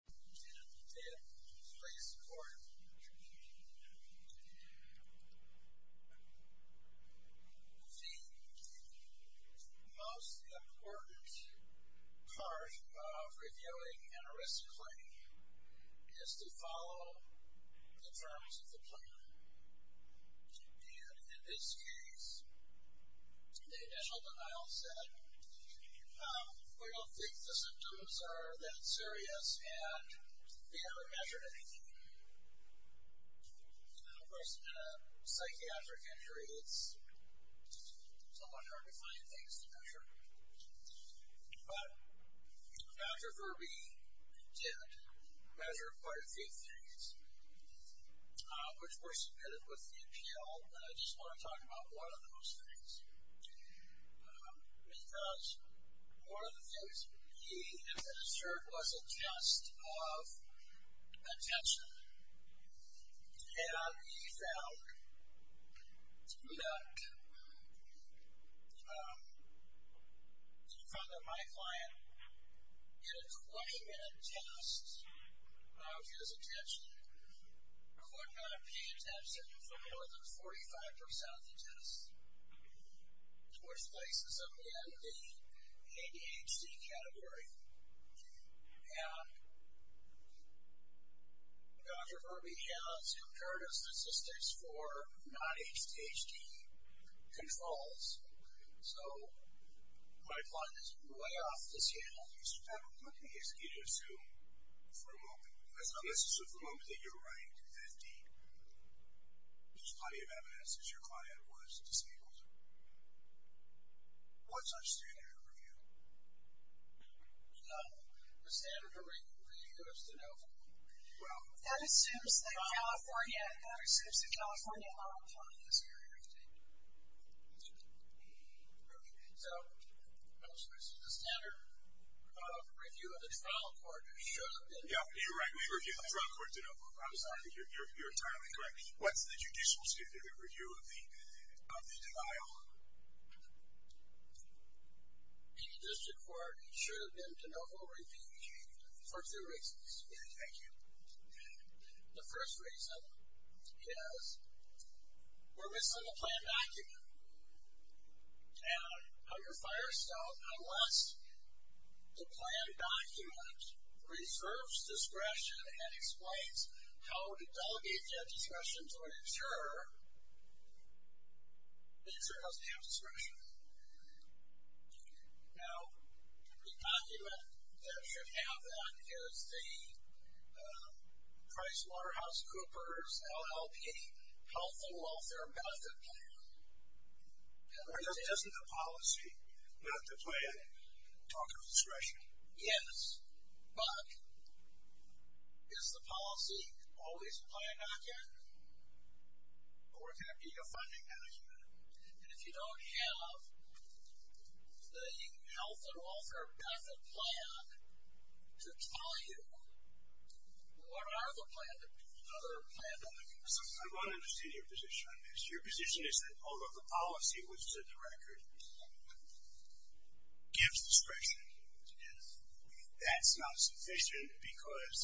Please support. The most important part of reviewing an risk claim is to follow the terms of the plan and in this case the initial denial said we don't think the they haven't measured anything. Of course in a psychiatric injury it's somewhat hard to find things to measure. But Dr. Verby did measure quite a few things which were submitted with the appeal and I just want to talk about one of those things because one of the things he inferred was a test of attention. And he found that my client in a 20 minute test of his attention could not pay attention for more than 45% of the test. Which places him in the ADHD category. And Dr. Verby has comparative statistics for non-ADHD controls. So my client is way off this handle. What do you assume for a moment, unless you assume for a moment that you're right, that there's plenty of evidence that your client was disabled. What's our standard of review? No. The standard of review is denial. Well, that assumes that California, that assumes that California law in this area is taken. Okay. So, the standard of review of the trial court should be denial. Yeah, you're right. We review the trial court denial. I'm sorry. You're entirely correct. What's the judicial standard of review of the denial? In the district court, it should have been de novo review for two reasons. Thank you. The first reason is we're missing the plan document. And under Firestone, unless the plan document reserves discretion and explains how to delegate that discretion to an insurer, the insurer doesn't have discretion. Now, the document that should have that is the PricewaterhouseCoopers LLP health and welfare benefit plan. Isn't the policy not to play a talk of discretion? Yes, but is the policy always a plan document? Or can it be a funding document? And if you don't have the health and welfare benefit plan to tell you what are the plan documents? I don't understand your position on this. Your position is that although the policy which is in the record gives discretion, that's not sufficient because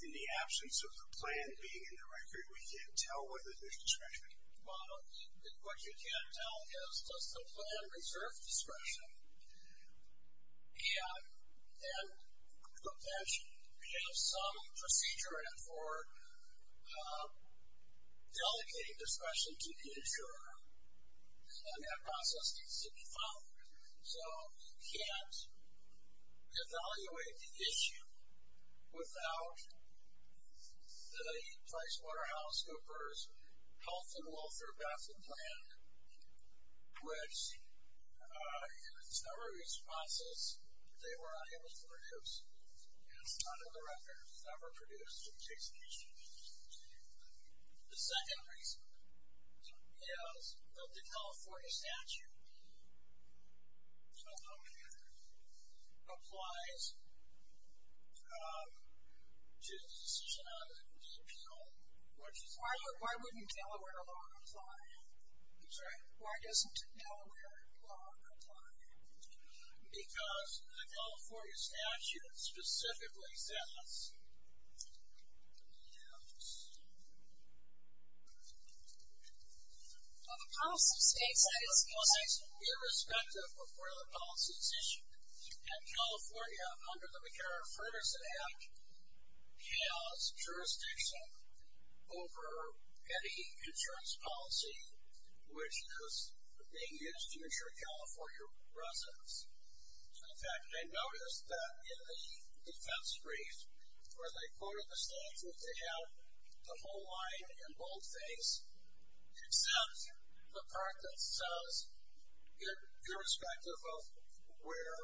in the absence of the plan being in the record, we can't tell whether there's discretion. Well, what you can't tell is does the plan reserve discretion and potentially have some procedure in it for delegating discretion to the insurer, and that process needs to be followed. So, you can't evaluate the issue without the PricewaterhouseCoopers health and welfare benefit plan, which in its number of responses, they were unable to produce. And it's not in the record. It was never produced. The second reason is that the California statute applies to the decision on the disappeal. Why wouldn't Delaware law apply? I'm sorry? Why doesn't Delaware law apply? Because the California statute specifically says, Well, the policy states that it's in effect irrespective of where the policy is issued. And California, under the McCarran-Ferguson Act, has jurisdiction over any insurance policy which is being used to insure California residence. In fact, they noticed that in the defense brief where they quoted the statute, they have the whole line in boldface except the part that says irrespective of where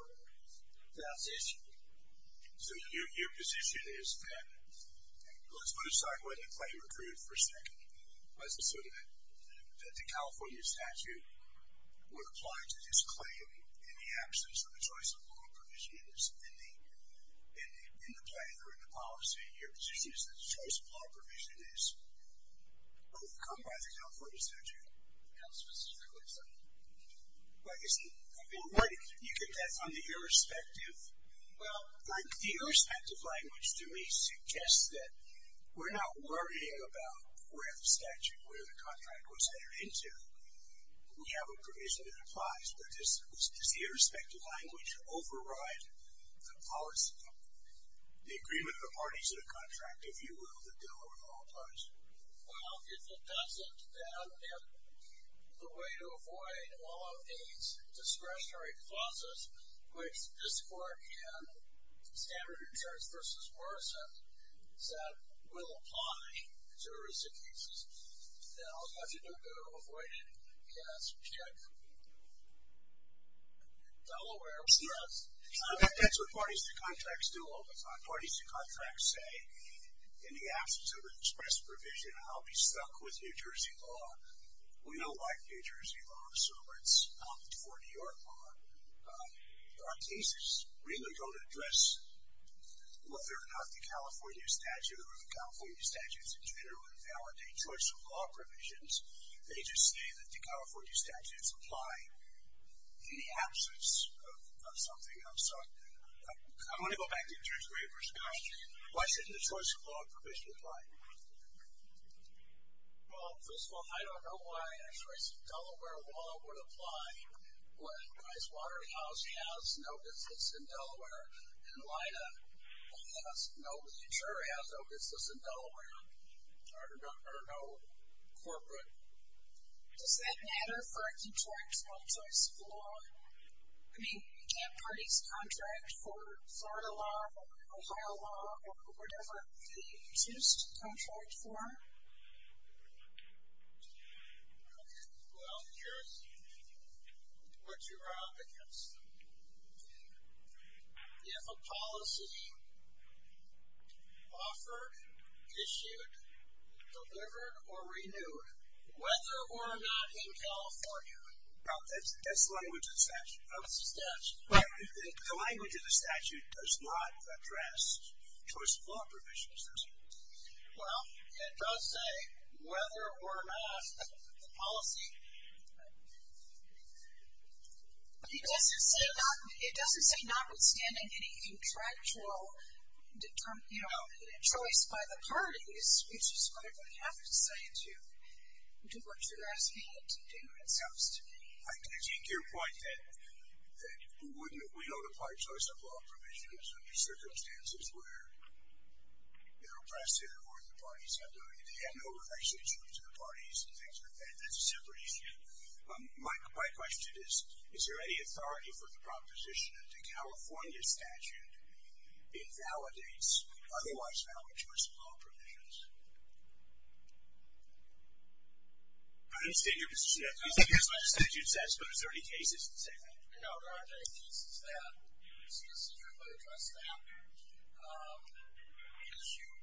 that's issued. So, your position is that, let's put aside whether the claim accrued for a second, so that the California statute would apply to this claim in the absence of a choice of law provision in the plan or in the policy. Your position is that the choice of law provision is overcome by the California statute? How specifically is that? I mean, you could guess on the irrespective. Well, the irrespective language to me suggests that we're not worrying about where the statute, where the contract was entered into. We have a provision that applies. But does the irrespective language override the policy, the agreement of the parties in the contract, if you will, that Delaware law applies? Well, if it doesn't, then the way to avoid all of these discretionary clauses, which this court in Standard Insurance v. Morrison said will apply to irrespective cases. Now, how do you know if they're avoided? Yes. Check. Delaware, yes. That's what parties to contracts do. Parties to contracts say, in the absence of an express provision, I'll be stuck with New Jersey law. We don't like New Jersey law, so let's opt for New York law. Our cases really don't address whether or not the California statute or the California statutes in general invalidate choice of law provisions. They just say that the California statutes apply in the absence of something else. I'm going to go back to the interpreter's question. Why shouldn't a choice of law provision apply? Well, first of all, I don't know why a choice of Delaware law would apply when Pricewaterhouse has no business in Delaware and Lida has no business in Delaware or no corporate. Does that matter for a contract on choice of law? I mean, can't parties contract for Florida law or Ohio law or whatever they choose to contract for? Okay. Well, here's what you run up against. If a policy offered, issued, delivered, or renewed, whether or not in California... That's the language of the statute. Oh, it's the statute. The language of the statute does not address choice of law provisions, does it? Well, it does say whether or not the policy... It doesn't say notwithstanding any contractual choice by the parties, which is what it would have to say to what you're asking it to do itself. I take your point that we don't apply choice of law provisions under circumstances where they're oppressive or the parties have no relationship to the parties and things like that. That's a separate issue. My question is, is there any authority for the proposition that the California statute invalidates otherwise valid choice of law provisions? I didn't state your position. He said here's what the statute says, but is there any cases to say that? No, there aren't any cases that specifically address that issue.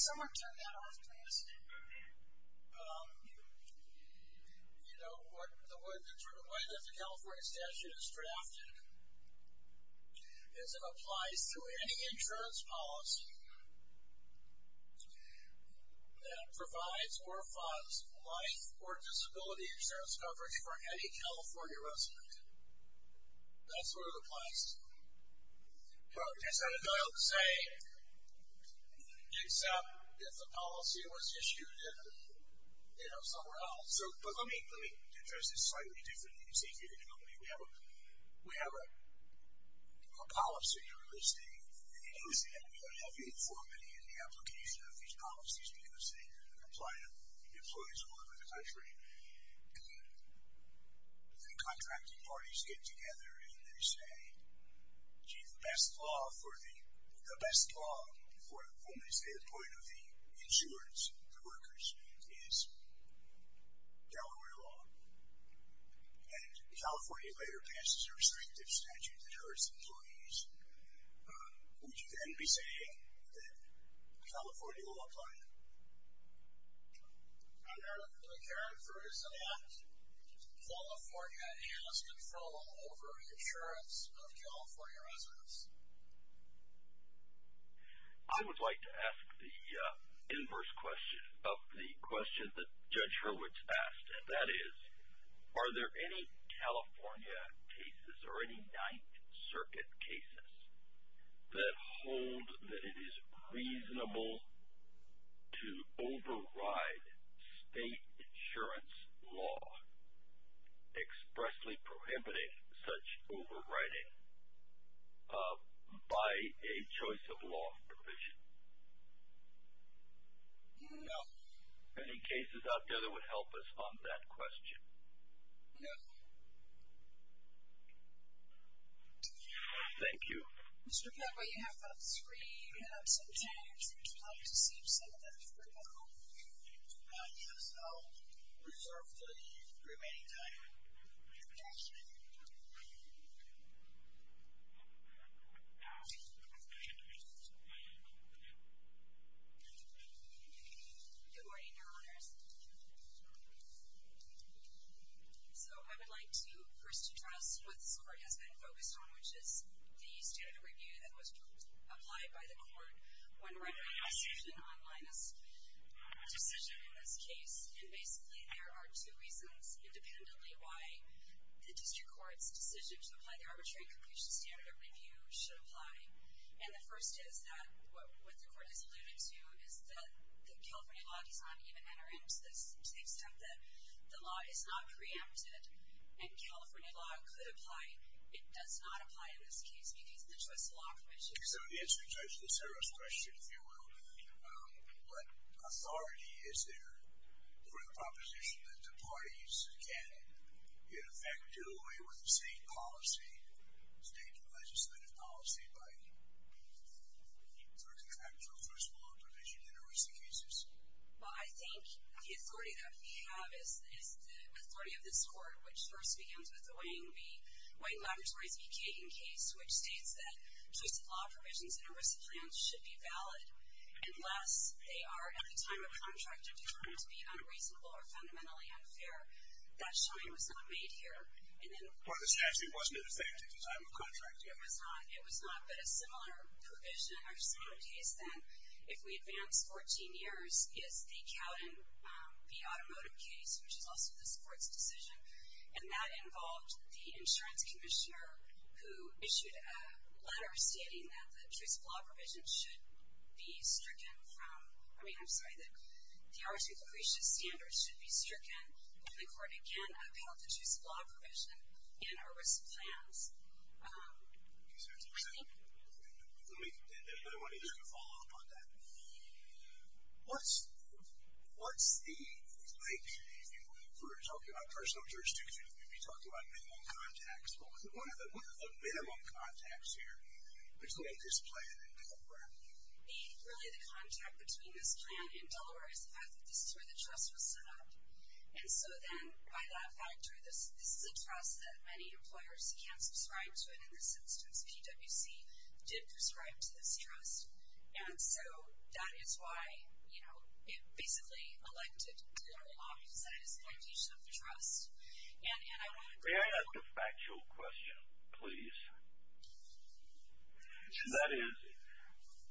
Someone turn that off, please. You know, the way that the California statute is drafted is it applies to any insurance policy. That provides or funds life or disability insurance coverage for any California resident. That's what it applies to. That's not a valid saying, except if the policy was issued, you know, somewhere else. But let me address this slightly differently and see if you can help me. We have a policy, a real estate policy, and we don't have uniformity in the application of these policies because they apply to employees all over the country. The contracting parties get together and they say, gee, the best law for the best law, from the standpoint of the insurers, the workers, is Delaware law. And California later passes a restrictive statute that hurts employees. Would you then be saying that California will apply it? Under the current version of that, California has control over insurance of California residents. I would like to ask the inverse question of the question that Judge Hurwitz asked, and that is are there any California cases or any Ninth Circuit cases that hold that it is reasonable to override state insurance law expressly prohibiting such overriding by a choice of law provision? No. Any cases out there that would help us on that question? No. Thank you. Mr. Cadway, you have three minutes and 10 seconds. Would you like to save some of that for tomorrow? Yes, I'll reserve the remaining time. Thank you. Good morning, Your Honors. So I would like to first address what this Court has been focused on, which is the standard review that was applied by the Court when writing the decision on Linus. The decision in this case, and basically there are two reasons, independently why the District Court's decision to apply the arbitrary conclusion standard review should apply. And the first is that what the Court has alluded to is that the California law does not even enter into this to the extent that the law is not preempted, and California law could apply. It does not apply in this case because of the choice of law provision. So to answer Judge Lucero's question, if you will, what authority is there for the proposition that the parties can, in effect, do away with the same policy, state legislative policy, by looking at actual first law provision in a risky case? Well, I think the authority that we have is the authority of this Court, which first begins with the Wayne v. White Laboratories v. Kagan case, which states that choice of law provisions in a risk plan should be valid unless they are, at the time of contract, determined to be unreasonable or fundamentally unfair. That showing was not made here. Well, this actually wasn't in effect at the time of contract. It was not, but a similar provision or similar case then, if we advance 14 years, is the Cowden v. Automotive case, which is also this Court's decision. And that involved the insurance commissioner, who issued a letter stating that the choice of law provision should be stricken from ‑‑ I mean, I'm sorry, that the R.C. Lucrecia standards should be stricken, and the Court, again, upheld the choice of law provision in our risk plans. I think ‑‑ Let me, if anybody wants to follow up on that. What's the, like, if we were talking about personal jurisdiction, we'd be talking about minimum contacts. What are the minimum contacts here between this plan and Delaware? Really, the contact between this plan and Delaware is the fact that this is where the trust was set up. And so then, by that factor, this is a trust that many employers can't subscribe to, and in this instance, PwC did prescribe to this trust. And so that is why, you know, it basically elected Delaware Law to decide it's the location of the trust. And I want to ‑‑ May I ask a factual question, please? That is,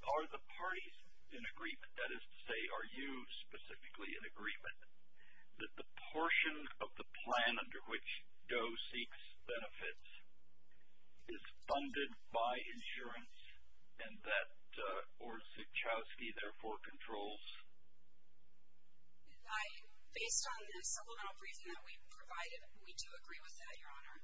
are the parties in agreement, that is to say, are you specifically in agreement, that the portion of the plan under which Doe seeks benefits is funded by insurance, and that, or Cichowski, therefore, controls? Based on the supplemental provision that we provided, we do agree with that, Your Honor.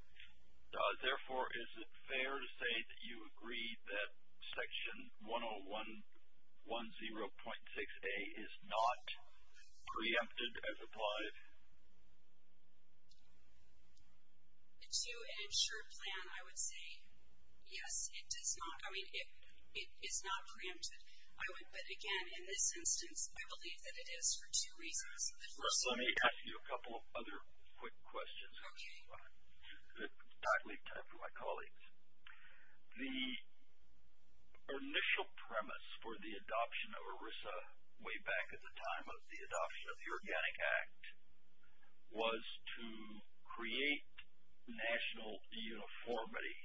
Therefore, is it fair to say that you agree that Section 10110.6a is not preempted as applied? To an insured plan, I would say, yes, it does not. I mean, it is not preempted. I would, but again, in this instance, I believe that it is for two reasons. Let me ask you a couple of other quick questions. Okay. I'll leave time for my colleagues. The initial premise for the adoption of ERISA way back at the time of the adoption of the Organic Act was to create national uniformity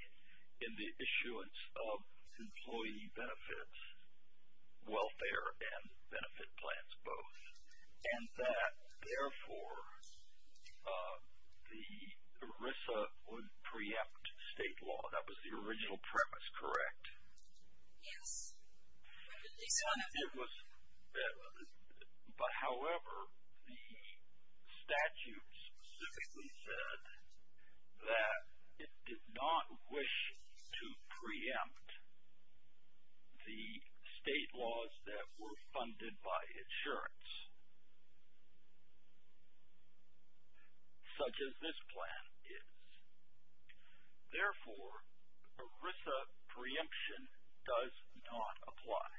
in the issuance of employee benefits, welfare, and benefit plans both. And that, therefore, the ERISA would preempt state law. That was the original premise, correct? Yes. It was, but however, the statute specifically said that it did not wish to preempt the state laws that were funded by insurance, such as this plan is. Therefore, ERISA preemption does not apply,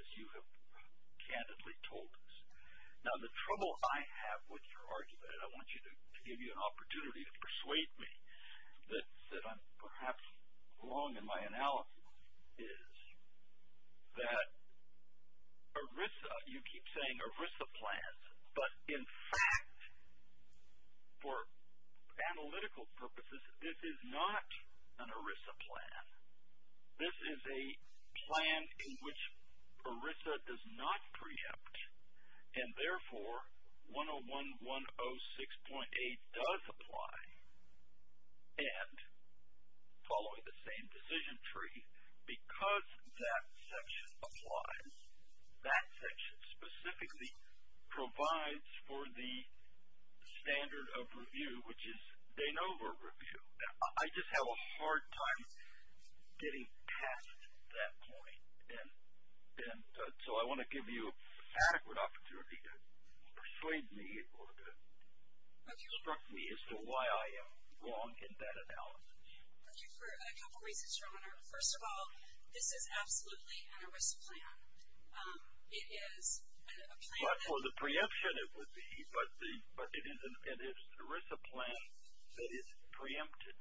as you have candidly told us. Now, the trouble I have with your argument, and I want to give you an opportunity to persuade me that I'm perhaps wrong in my analysis, is that ERISA, you keep saying ERISA plans, but, in fact, for analytical purposes, this is not an ERISA plan. This is a plan in which ERISA does not preempt, and, therefore, 101106.8 does apply, and following the same decision tree, because that section applies, that section specifically provides for the standard of review, which is de novo review. I just have a hard time getting past that point, and so I want to give you an adequate opportunity to persuade me or to instruct me as to why I am wrong in that analysis. First of all, this is absolutely an ERISA plan. It is a plan that. But for the preemption, it would be, but it is an ERISA plan that is preempted,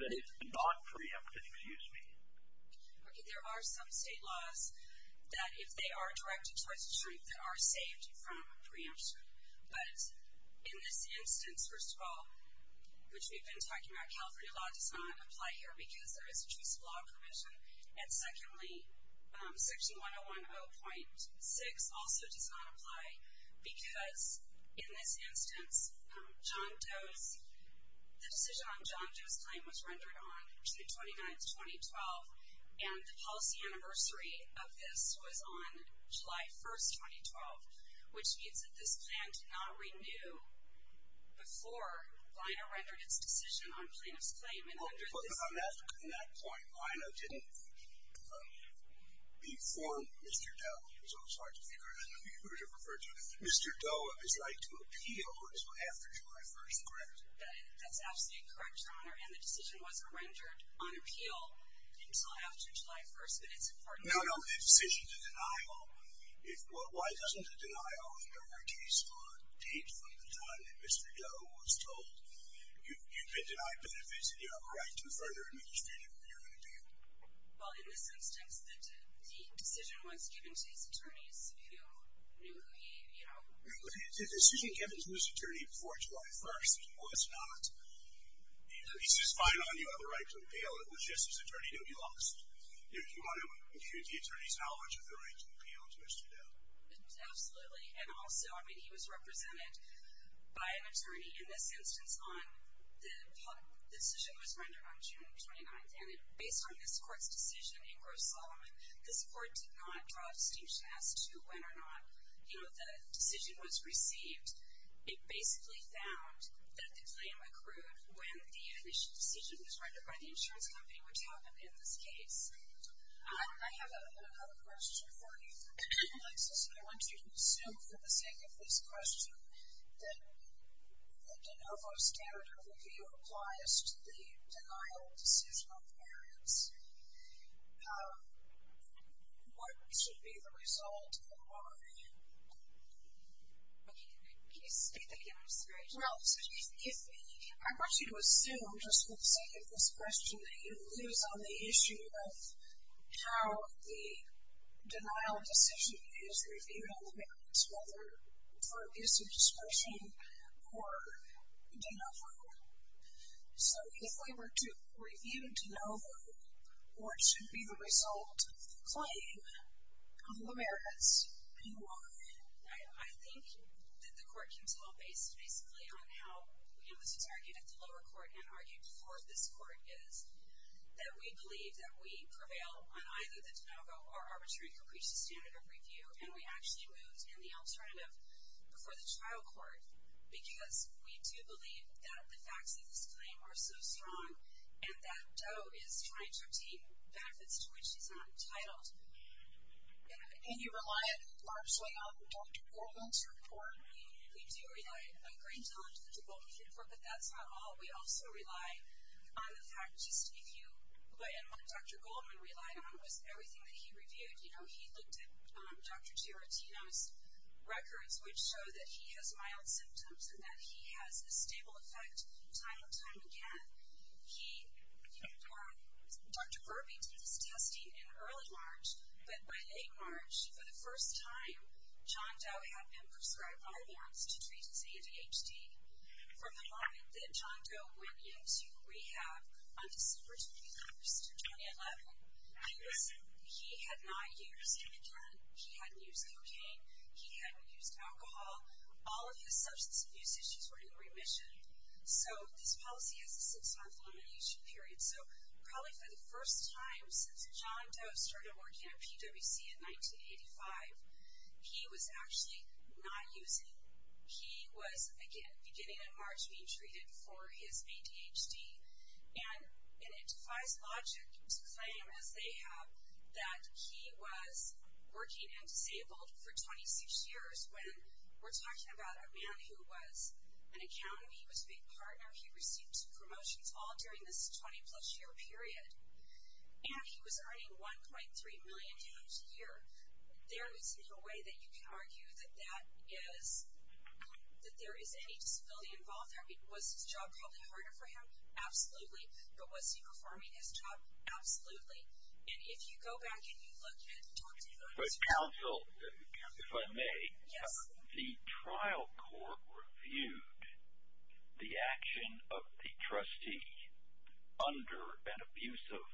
that is not preempted, excuse me. Okay, there are some state laws that, if they are directed towards the truth, that are saved from preemption, but in this instance, first of all, which we've been talking about, California law does not apply here because there is a choice of law provision, and secondly, section 101.6 also does not apply because, in this instance, John Doe's, the decision on John Doe's claim was rendered on June 29, 2012, and the policy anniversary of this was on July 1, 2012, which means that this plan did not renew before Lino rendered its decision on plaintiff's claim, and under this. But on that point, Lino didn't inform Mr. Doe, so it's hard to figure out who to refer to. Mr. Doe is like to appeal after July 1, correct? That's absolutely correct, Your Honor, and the decision wasn't rendered on appeal until after July 1, but it's important. No, no, the decision, the denial, why doesn't the denial, if there were a case on a date from the time that Mr. Doe was told, you've been denied benefits and you have a right to further administrate it, what are you going to do? Well, in this instance, the decision was given to his attorneys who knew who he, you know. The decision given to his attorney before July 1 was not, he says, fine, you have a right to appeal, it was just his attorney knew he lost. Your Honor, the attorneys know how much of their right to appeal to Mr. Doe. Absolutely, and also, I mean, he was represented by an attorney in this instance on, the decision was rendered on June 29, and based on this court's decision in Gross-Solomon, this court did not draw a distinction as to when or not, you know, the decision was received. It basically found that the claim accrued when the initial decision was rendered by the insurance company, which happened in this case. I have another question for you, Alexis, and I want you to assume for the sake of this question that De Novo's standard of review applies to the denial of decision on the parents. What should be the result, and why? Can you speak again? I'm sorry. Well, I want you to assume, just for the sake of this question, that you lose on the issue of how the denial of decision is reviewed on the parents, whether for abuse of discretion or De Novo. So if we were to review De Novo, what should be the result of the claim on the parents, and why? I think that the court can tell based basically on how, you know, this was argued at the lower court and argued before this court, is that we believe that we prevail on either the De Novo or arbitrary caprice standard of review, and we actually moved in the alternative before the trial court because we do believe that the facts of this claim are so strong and that Doe is trying to obtain benefits to which she's not entitled. And you rely largely on Dr. Goldman's report? We do rely a great deal on Dr. Goldman's report, but that's not all. We also rely on the fact just if you, and what Dr. Goldman relied on was everything that he reviewed. You know, he looked at Dr. Giarratino's records, which show that he has mild symptoms and that he has a stable effect time and time again. Dr. Kirby did this testing in early March, but by late March, for the first time, John Doe had been prescribed Arborn's to treat his ADHD. From the moment that John Doe went into rehab on December 21st of 2011, he had not used Meden, he hadn't used cocaine, he hadn't used alcohol, all of his substance abuse issues were in remission. So this policy has a six-month limitation period. So probably for the first time since John Doe started working at PwC in 1985, he was actually not using. He was, again, beginning in March being treated for his ADHD. And it defies logic to claim, as they have, that he was working and disabled for 26 years when we're talking about a man who was an accountant, he was a big partner, he received two promotions all during this 20-plus year period. And he was earning $1.3 million a year. There is no way that you can argue that there is any disability involved there. I mean, was his job probably harder for him? Absolutely. But was he performing his job? Absolutely. And if you go back and you look at Dr. Doe's records, if I may, the trial court reviewed the action of the trustee under an abusive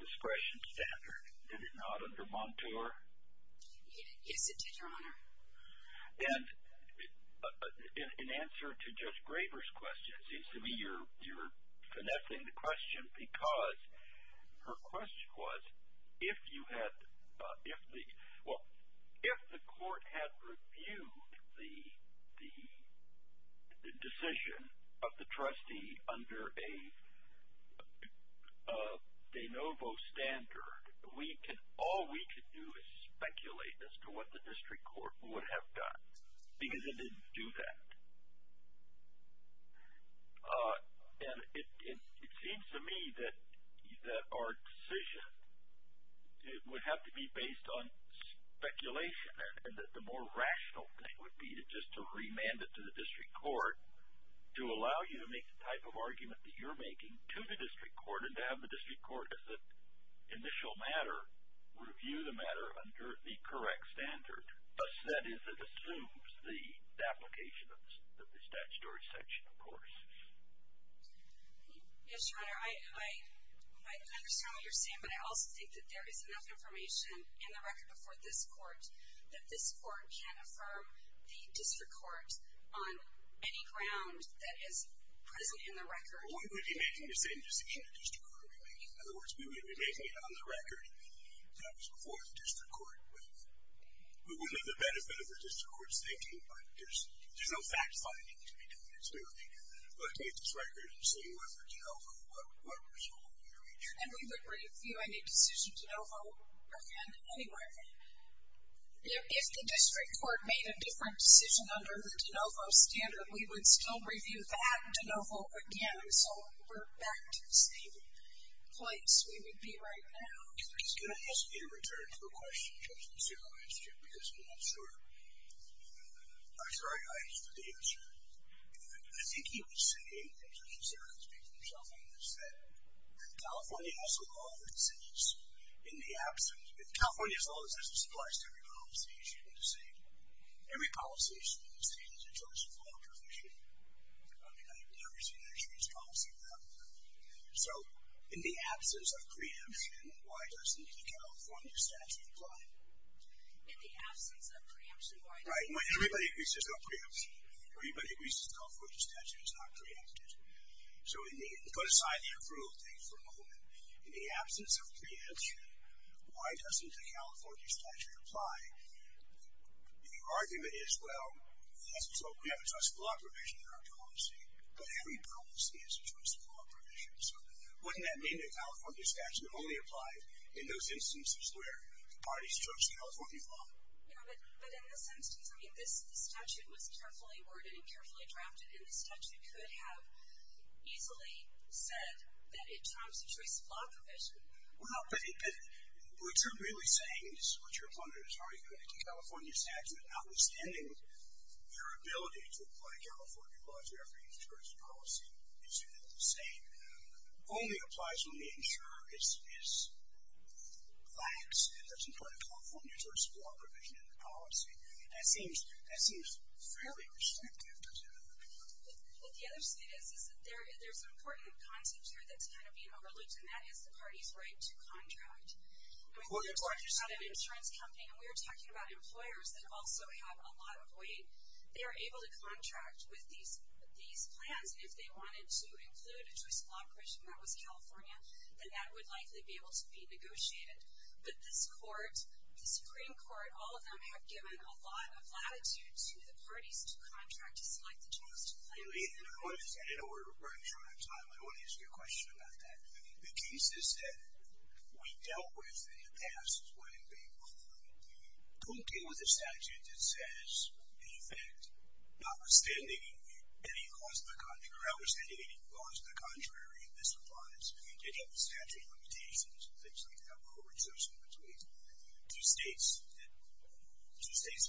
discretion standard. Did it not, under Montour? Yes, it did, Your Honor. And in answer to Judge Graber's question, because her question was, if you had, if the, well, if the court had reviewed the decision of the trustee under a de novo standard, all we could do is speculate as to what the district court would have done, because it didn't do that. And it seems to me that our decision would have to be based on speculation and that the more rational thing would be just to remand it to the district court to allow you to make the type of argument that you're making to the district court and to have the district court, as an initial matter, review the matter under the correct standard. Thus, that is, it assumes the application of the statutory section, of course. Yes, Your Honor. I understand what you're saying, but I also think that there is enough information in the record before this court that this court can't affirm the district court on any ground that is present in the record. Well, we would be making the same decision to district court. In other words, we would be making it on the record that it was before the district court. We wouldn't be at the benefit of the district court's thinking, but there's no fact-finding to be done, so we would be looking at this record and seeing whether de novo, what result would be reached. And we would review any decision de novo again anyway. If the district court made a different decision under the de novo standard, we would still review that de novo again, so we're back to the same place we would be right now. I was going to ask Peter to return to the question just to see if I understood, because I'm not sure. I'm sorry. I understood the answer. I think he was saying, and I'm just going to say what he's been telling us, that California has a law that says, in the absence of, California has a law that says it applies to every policy issue in the state. Every policy issue in the state is a choice of law and definition. I mean, I've never seen a choice policy law. So in the absence of preemption, why doesn't the California statute apply? In the absence of preemption, why doesn't it? Right. Everybody agrees there's no preemption. Everybody agrees the California statute is not preempted. So put aside the approval thing for a moment. In the absence of preemption, why doesn't the California statute apply? The argument is, well, we have a choice of law provision in our policy, but every policy is a choice of law provision. So wouldn't that mean the California statute only applies in those instances where the parties chose the California law? Yeah, but in this instance, I mean, this statute was carefully worded and carefully drafted, and the statute could have easily said that it trumps the choice of law provision. Well, but what you're really saying is what your opponent is arguing. The California statute, notwithstanding your ability to apply California law to every insurance policy, it's the same. Only applies when the insurer is lax and doesn't try to conform your choice of law provision in the policy. That seems fairly restrictive, doesn't it? What the other state is, is that there's an important content here that's kind of being overlooked, and that is the party's right to contract. I mean, we're talking about an insurance company, and we're talking about employers that also have a lot of weight. They are able to contract with these plans, and if they wanted to include a choice of law provision that was California, then that would likely be able to be negotiated. But this court, the Supreme Court, all of them have given a lot of latitude to the parties to contract to select the choice of plan. I know we're running short on time. I want to ask you a question about that. I mean, the cases that we dealt with in the past is when a court came with a statute that says, in effect, notwithstanding any clause to the contrary, or outstanding any clause to the contrary, this applies to any of the statute limitations and things like that, or reservation between two states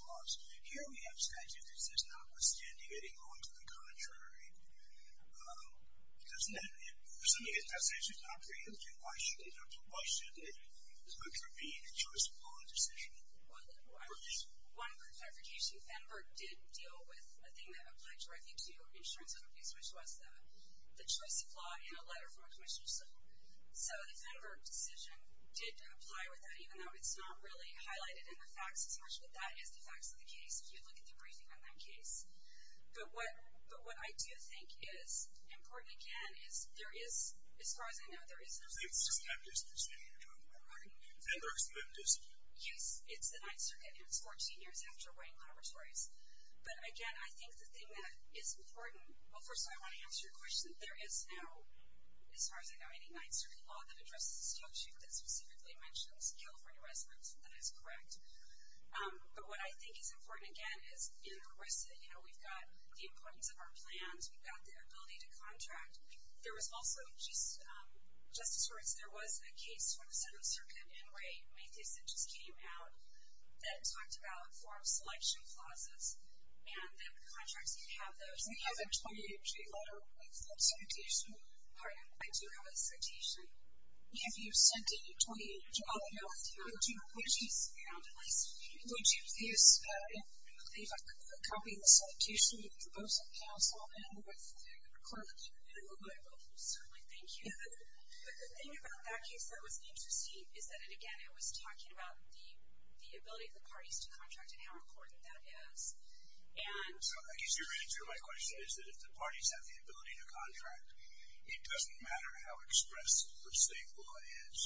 laws. Here we have a statute that says, notwithstanding any clause to the contrary. Doesn't that mean that statute is not preemptive? Why should it? Why should there be a choice of law decision? One clarification, Fenberg did deal with a thing that applied directly to insurance companies, which was the choice of law in a letter from a commissioner. So the Fenberg decision did apply with that, even though it's not really highlighted in the facts as much, but that is the facts of the case if you look at the briefing on that case. But what I do think is important, again, is there is, as far as I know, there is no statute. It's the 9th Circuit. It's 14 years after Wayne Laboratories. But, again, I think the thing that is important, well, first of all, I want to answer your question. There is no, as far as I know, any 9th Circuit law that addresses the statute that specifically mentions California residents. That is correct. But what I think is important, again, is in ARISA, you know, we've got the importance of our plans. We've got the ability to contract. There was also just as far as there was a case from the 7th Circuit in Ray Mathieson just came out that talked about form selection clauses and that contracts can have those. We have a 28-page letter with the citation. Pardon? I do have a citation. Have you sent it in 28 pages? No, I haven't. Would you at least include a copy of the citation with the proposal counsel and with the clause? Certainly. Thank you. But the thing about that case that was interesting is that, again, it was talking about the ability of the parties to contract and how important that is. I guess you're right, too. My question is that if the parties have the ability to contract, it doesn't matter how expressive or stable it is.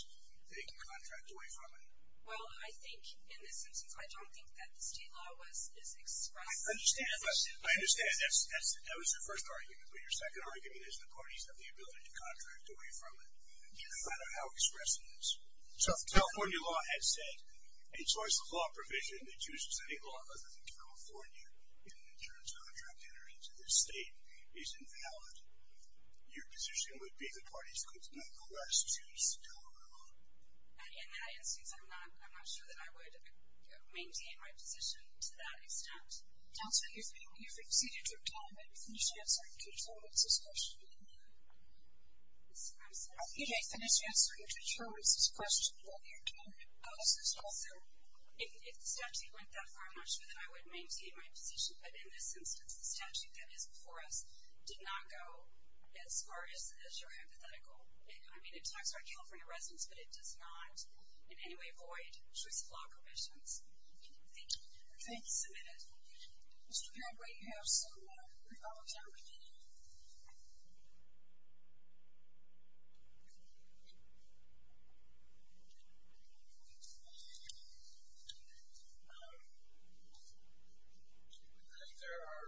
They can contract away from it. Well, I think in this instance, I don't think that the state law is expressive. I understand. That was your first argument. But your second argument is the parties have the ability to contract away from it. It doesn't matter how expressive it is. So if California law had said a choice of law provision that chooses any law other than California in an insurance contract entering into the state is invalid, your position would be the parties could nonetheless choose to contract. In that instance, I'm not sure that I would maintain my position to that extent. Counselor, you've exceeded your time. I finished answering Judge Horowitz's question earlier. I'm sorry? You didn't finish answering Judge Horowitz's question earlier, did you? I'm not sure that I would maintain my position. But in this instance, the statute that is before us did not go as far as your hypothetical. I mean, it talks about California residents, but it does not, in any way, void choice of law provisions. Thank you. Thank you. Mr. Padway, you have seven more. We're almost out of time. I think there are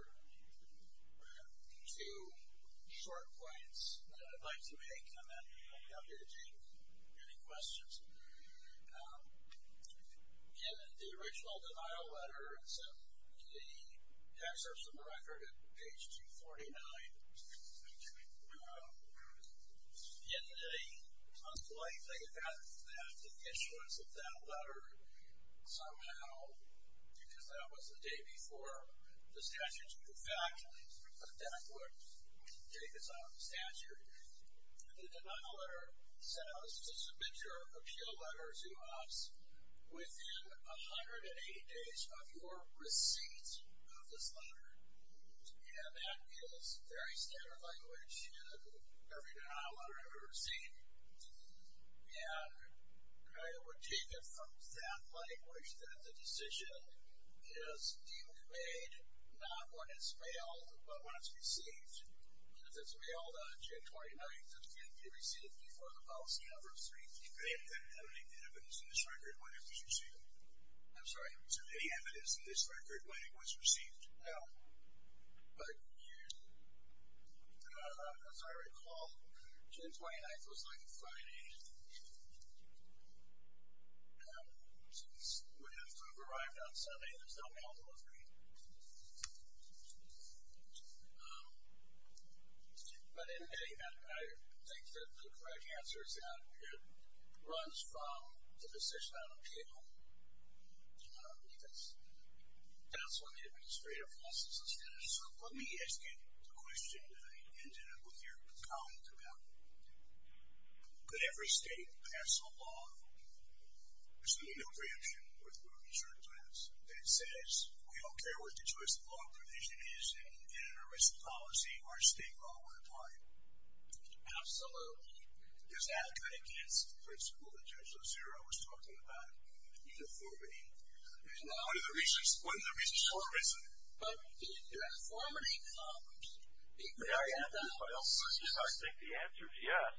two short points that I'd like to make, and then I'll be happy to take any questions. In the original denial letter that's in the Tax Service of the Record, at page 249, in a most polite way, they have taken the issuance of that letter somehow, because that was the day before the statute, in fact, that that would take us out of the statute. The denial letter says to submit your appeal letter to us within 180 days of your receipt of this letter. And that is very standard language in every denial letter I've ever seen. And I would take it from that language that the decision is being made not when it's mailed, but when it's received. If it's mailed on June 29th, it can't be received before the policy number of three weeks. Any evidence in this record when it was received? I'm sorry? Is there any evidence in this record when it was received? No. But as I recall, June 29th was like a Friday. Since we have to have arrived on Sunday, there's no mail delivery. But I think that the correct answer is that it runs from the decision on appeal, because that's when the administrative process is finished. So let me ask you the question that I ended up with your comment about. Could every state pass a law? There's an email preemption, which we were concerned about, that says we don't care what the choice of law and provision is, and in an arrest policy, our state law would apply. Absolutely. Does that go against the principle that Judge Lozera was talking about, uniformity? One of the reasons for arrest law is uniformity. I think the answer is yes,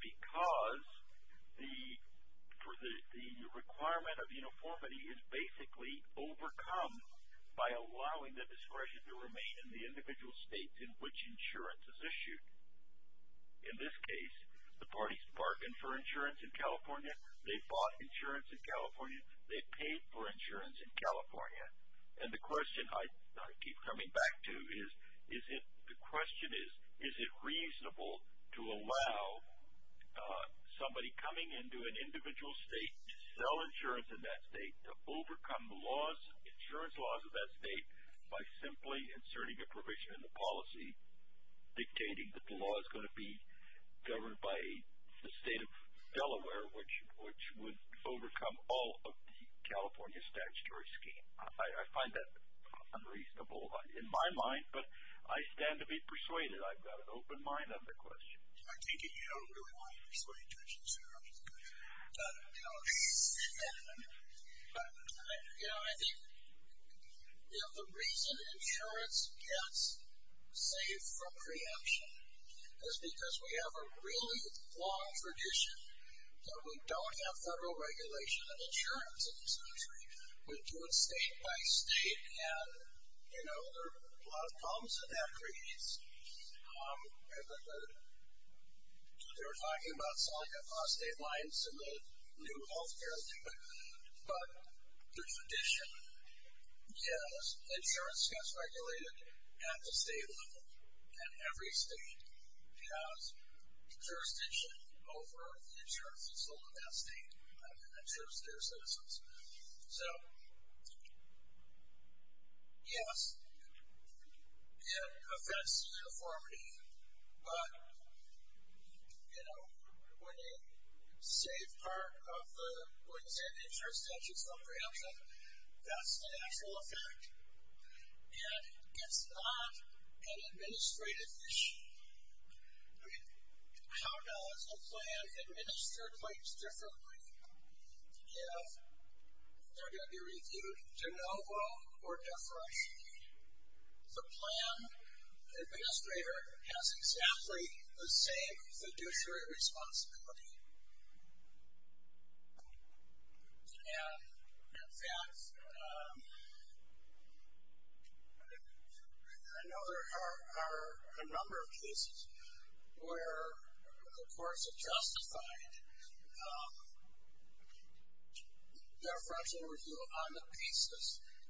because the requirement of uniformity is basically overcome by allowing the discretion to remain in the individual states in which insurance is issued. In this case, the parties bargained for insurance in California. They bought insurance in California. They paid for insurance in California. And the question I keep coming back to is the question is, is it reasonable to allow somebody coming into an individual state to sell insurance in that state, to overcome the insurance laws of that state by simply inserting a provision in the policy dictating that the law is going to be governed by the state of Delaware, which would overcome all of the California statutory scheme. I find that unreasonable in my mind, but I stand to be persuaded. I've got an open mind on the question. I think you don't really want to persuade judges. I think the reason insurance gets saved from preemption is because we have a really long tradition that we don't have federal regulation of insurance in this country. We do it state by state, and, you know, there are a lot of problems that that creates. They were talking about selling it on state lines in the new health care limit, but the tradition is insurance gets regulated at the state level, and every state has jurisdiction over the insurance that's sold in that state in terms of their citizens. So, yes, it affects uniformity, but, you know, when you save part of the, when you save the insurance statutes from preemption, that's the actual effect. And it's not an administrative issue. How does a plan administer claims differently if they're going to be reviewed to no avail or deferred? The plan administrator has exactly the same fiduciary responsibility. And, in fact, I know there are a number of cases where the courts have justified deferential review on the basis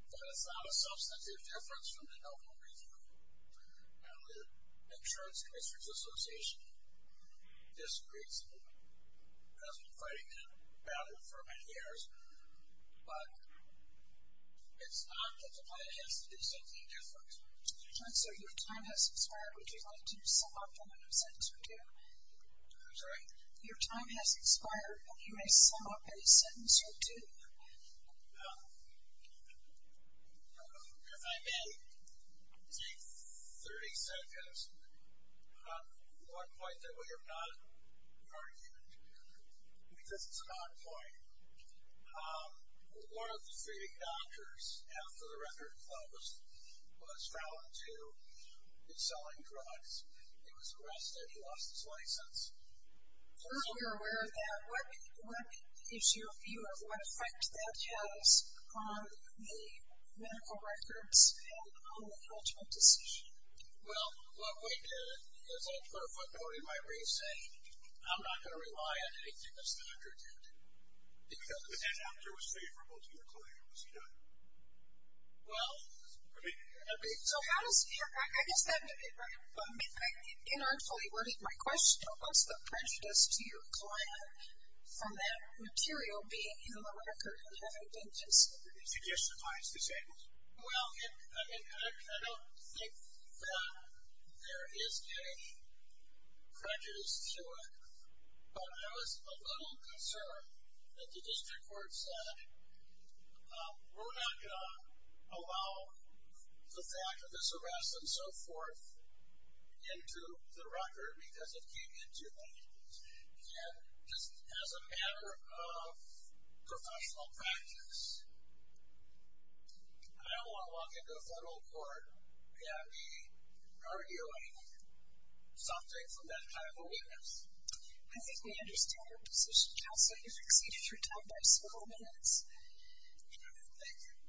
that it's not a substantive difference from the I've been fighting about it for many years, but it's not that the plan has to do something different. Your time has expired. Would you like to sum up in a sentence or two? I'm sorry? Your time has expired, and you may sum up in a sentence or two. If I may take 30 seconds on one point that we have not argued, because it's an odd point. One of the feeding doctors, after the record closed, was found to be selling drugs. He was arrested. He lost his license. We're aware of that. What is your view of what effect that has on the medical records and on the ultimate decision? Well, what we did is I put a footnote in my receipt. I'm not going to rely on anything that's the doctor did. But that doctor was favorable to your client, was he not? Well, I mean, so how does he or I guess that, inartfully worded my question, what's the prejudice to your client from that material being in the record and having been disabled? Did you suffice disabled? Well, I mean, I don't think that there is any prejudice to it, but I was a little concerned that the district court said, we're not going to allow the fact that this arrest and so forth into the record because it came into it. And just as a matter of professional practice, I don't want to walk into a federal court and be arguing something from that kind of a witness. I think we understand your position, Counselor. You've exceeded your time by several minutes. Thank you. The case just argued is submitted, and we appreciate very much the arguments that both of you have made today. They've been very helpful. With that, we're adjourned.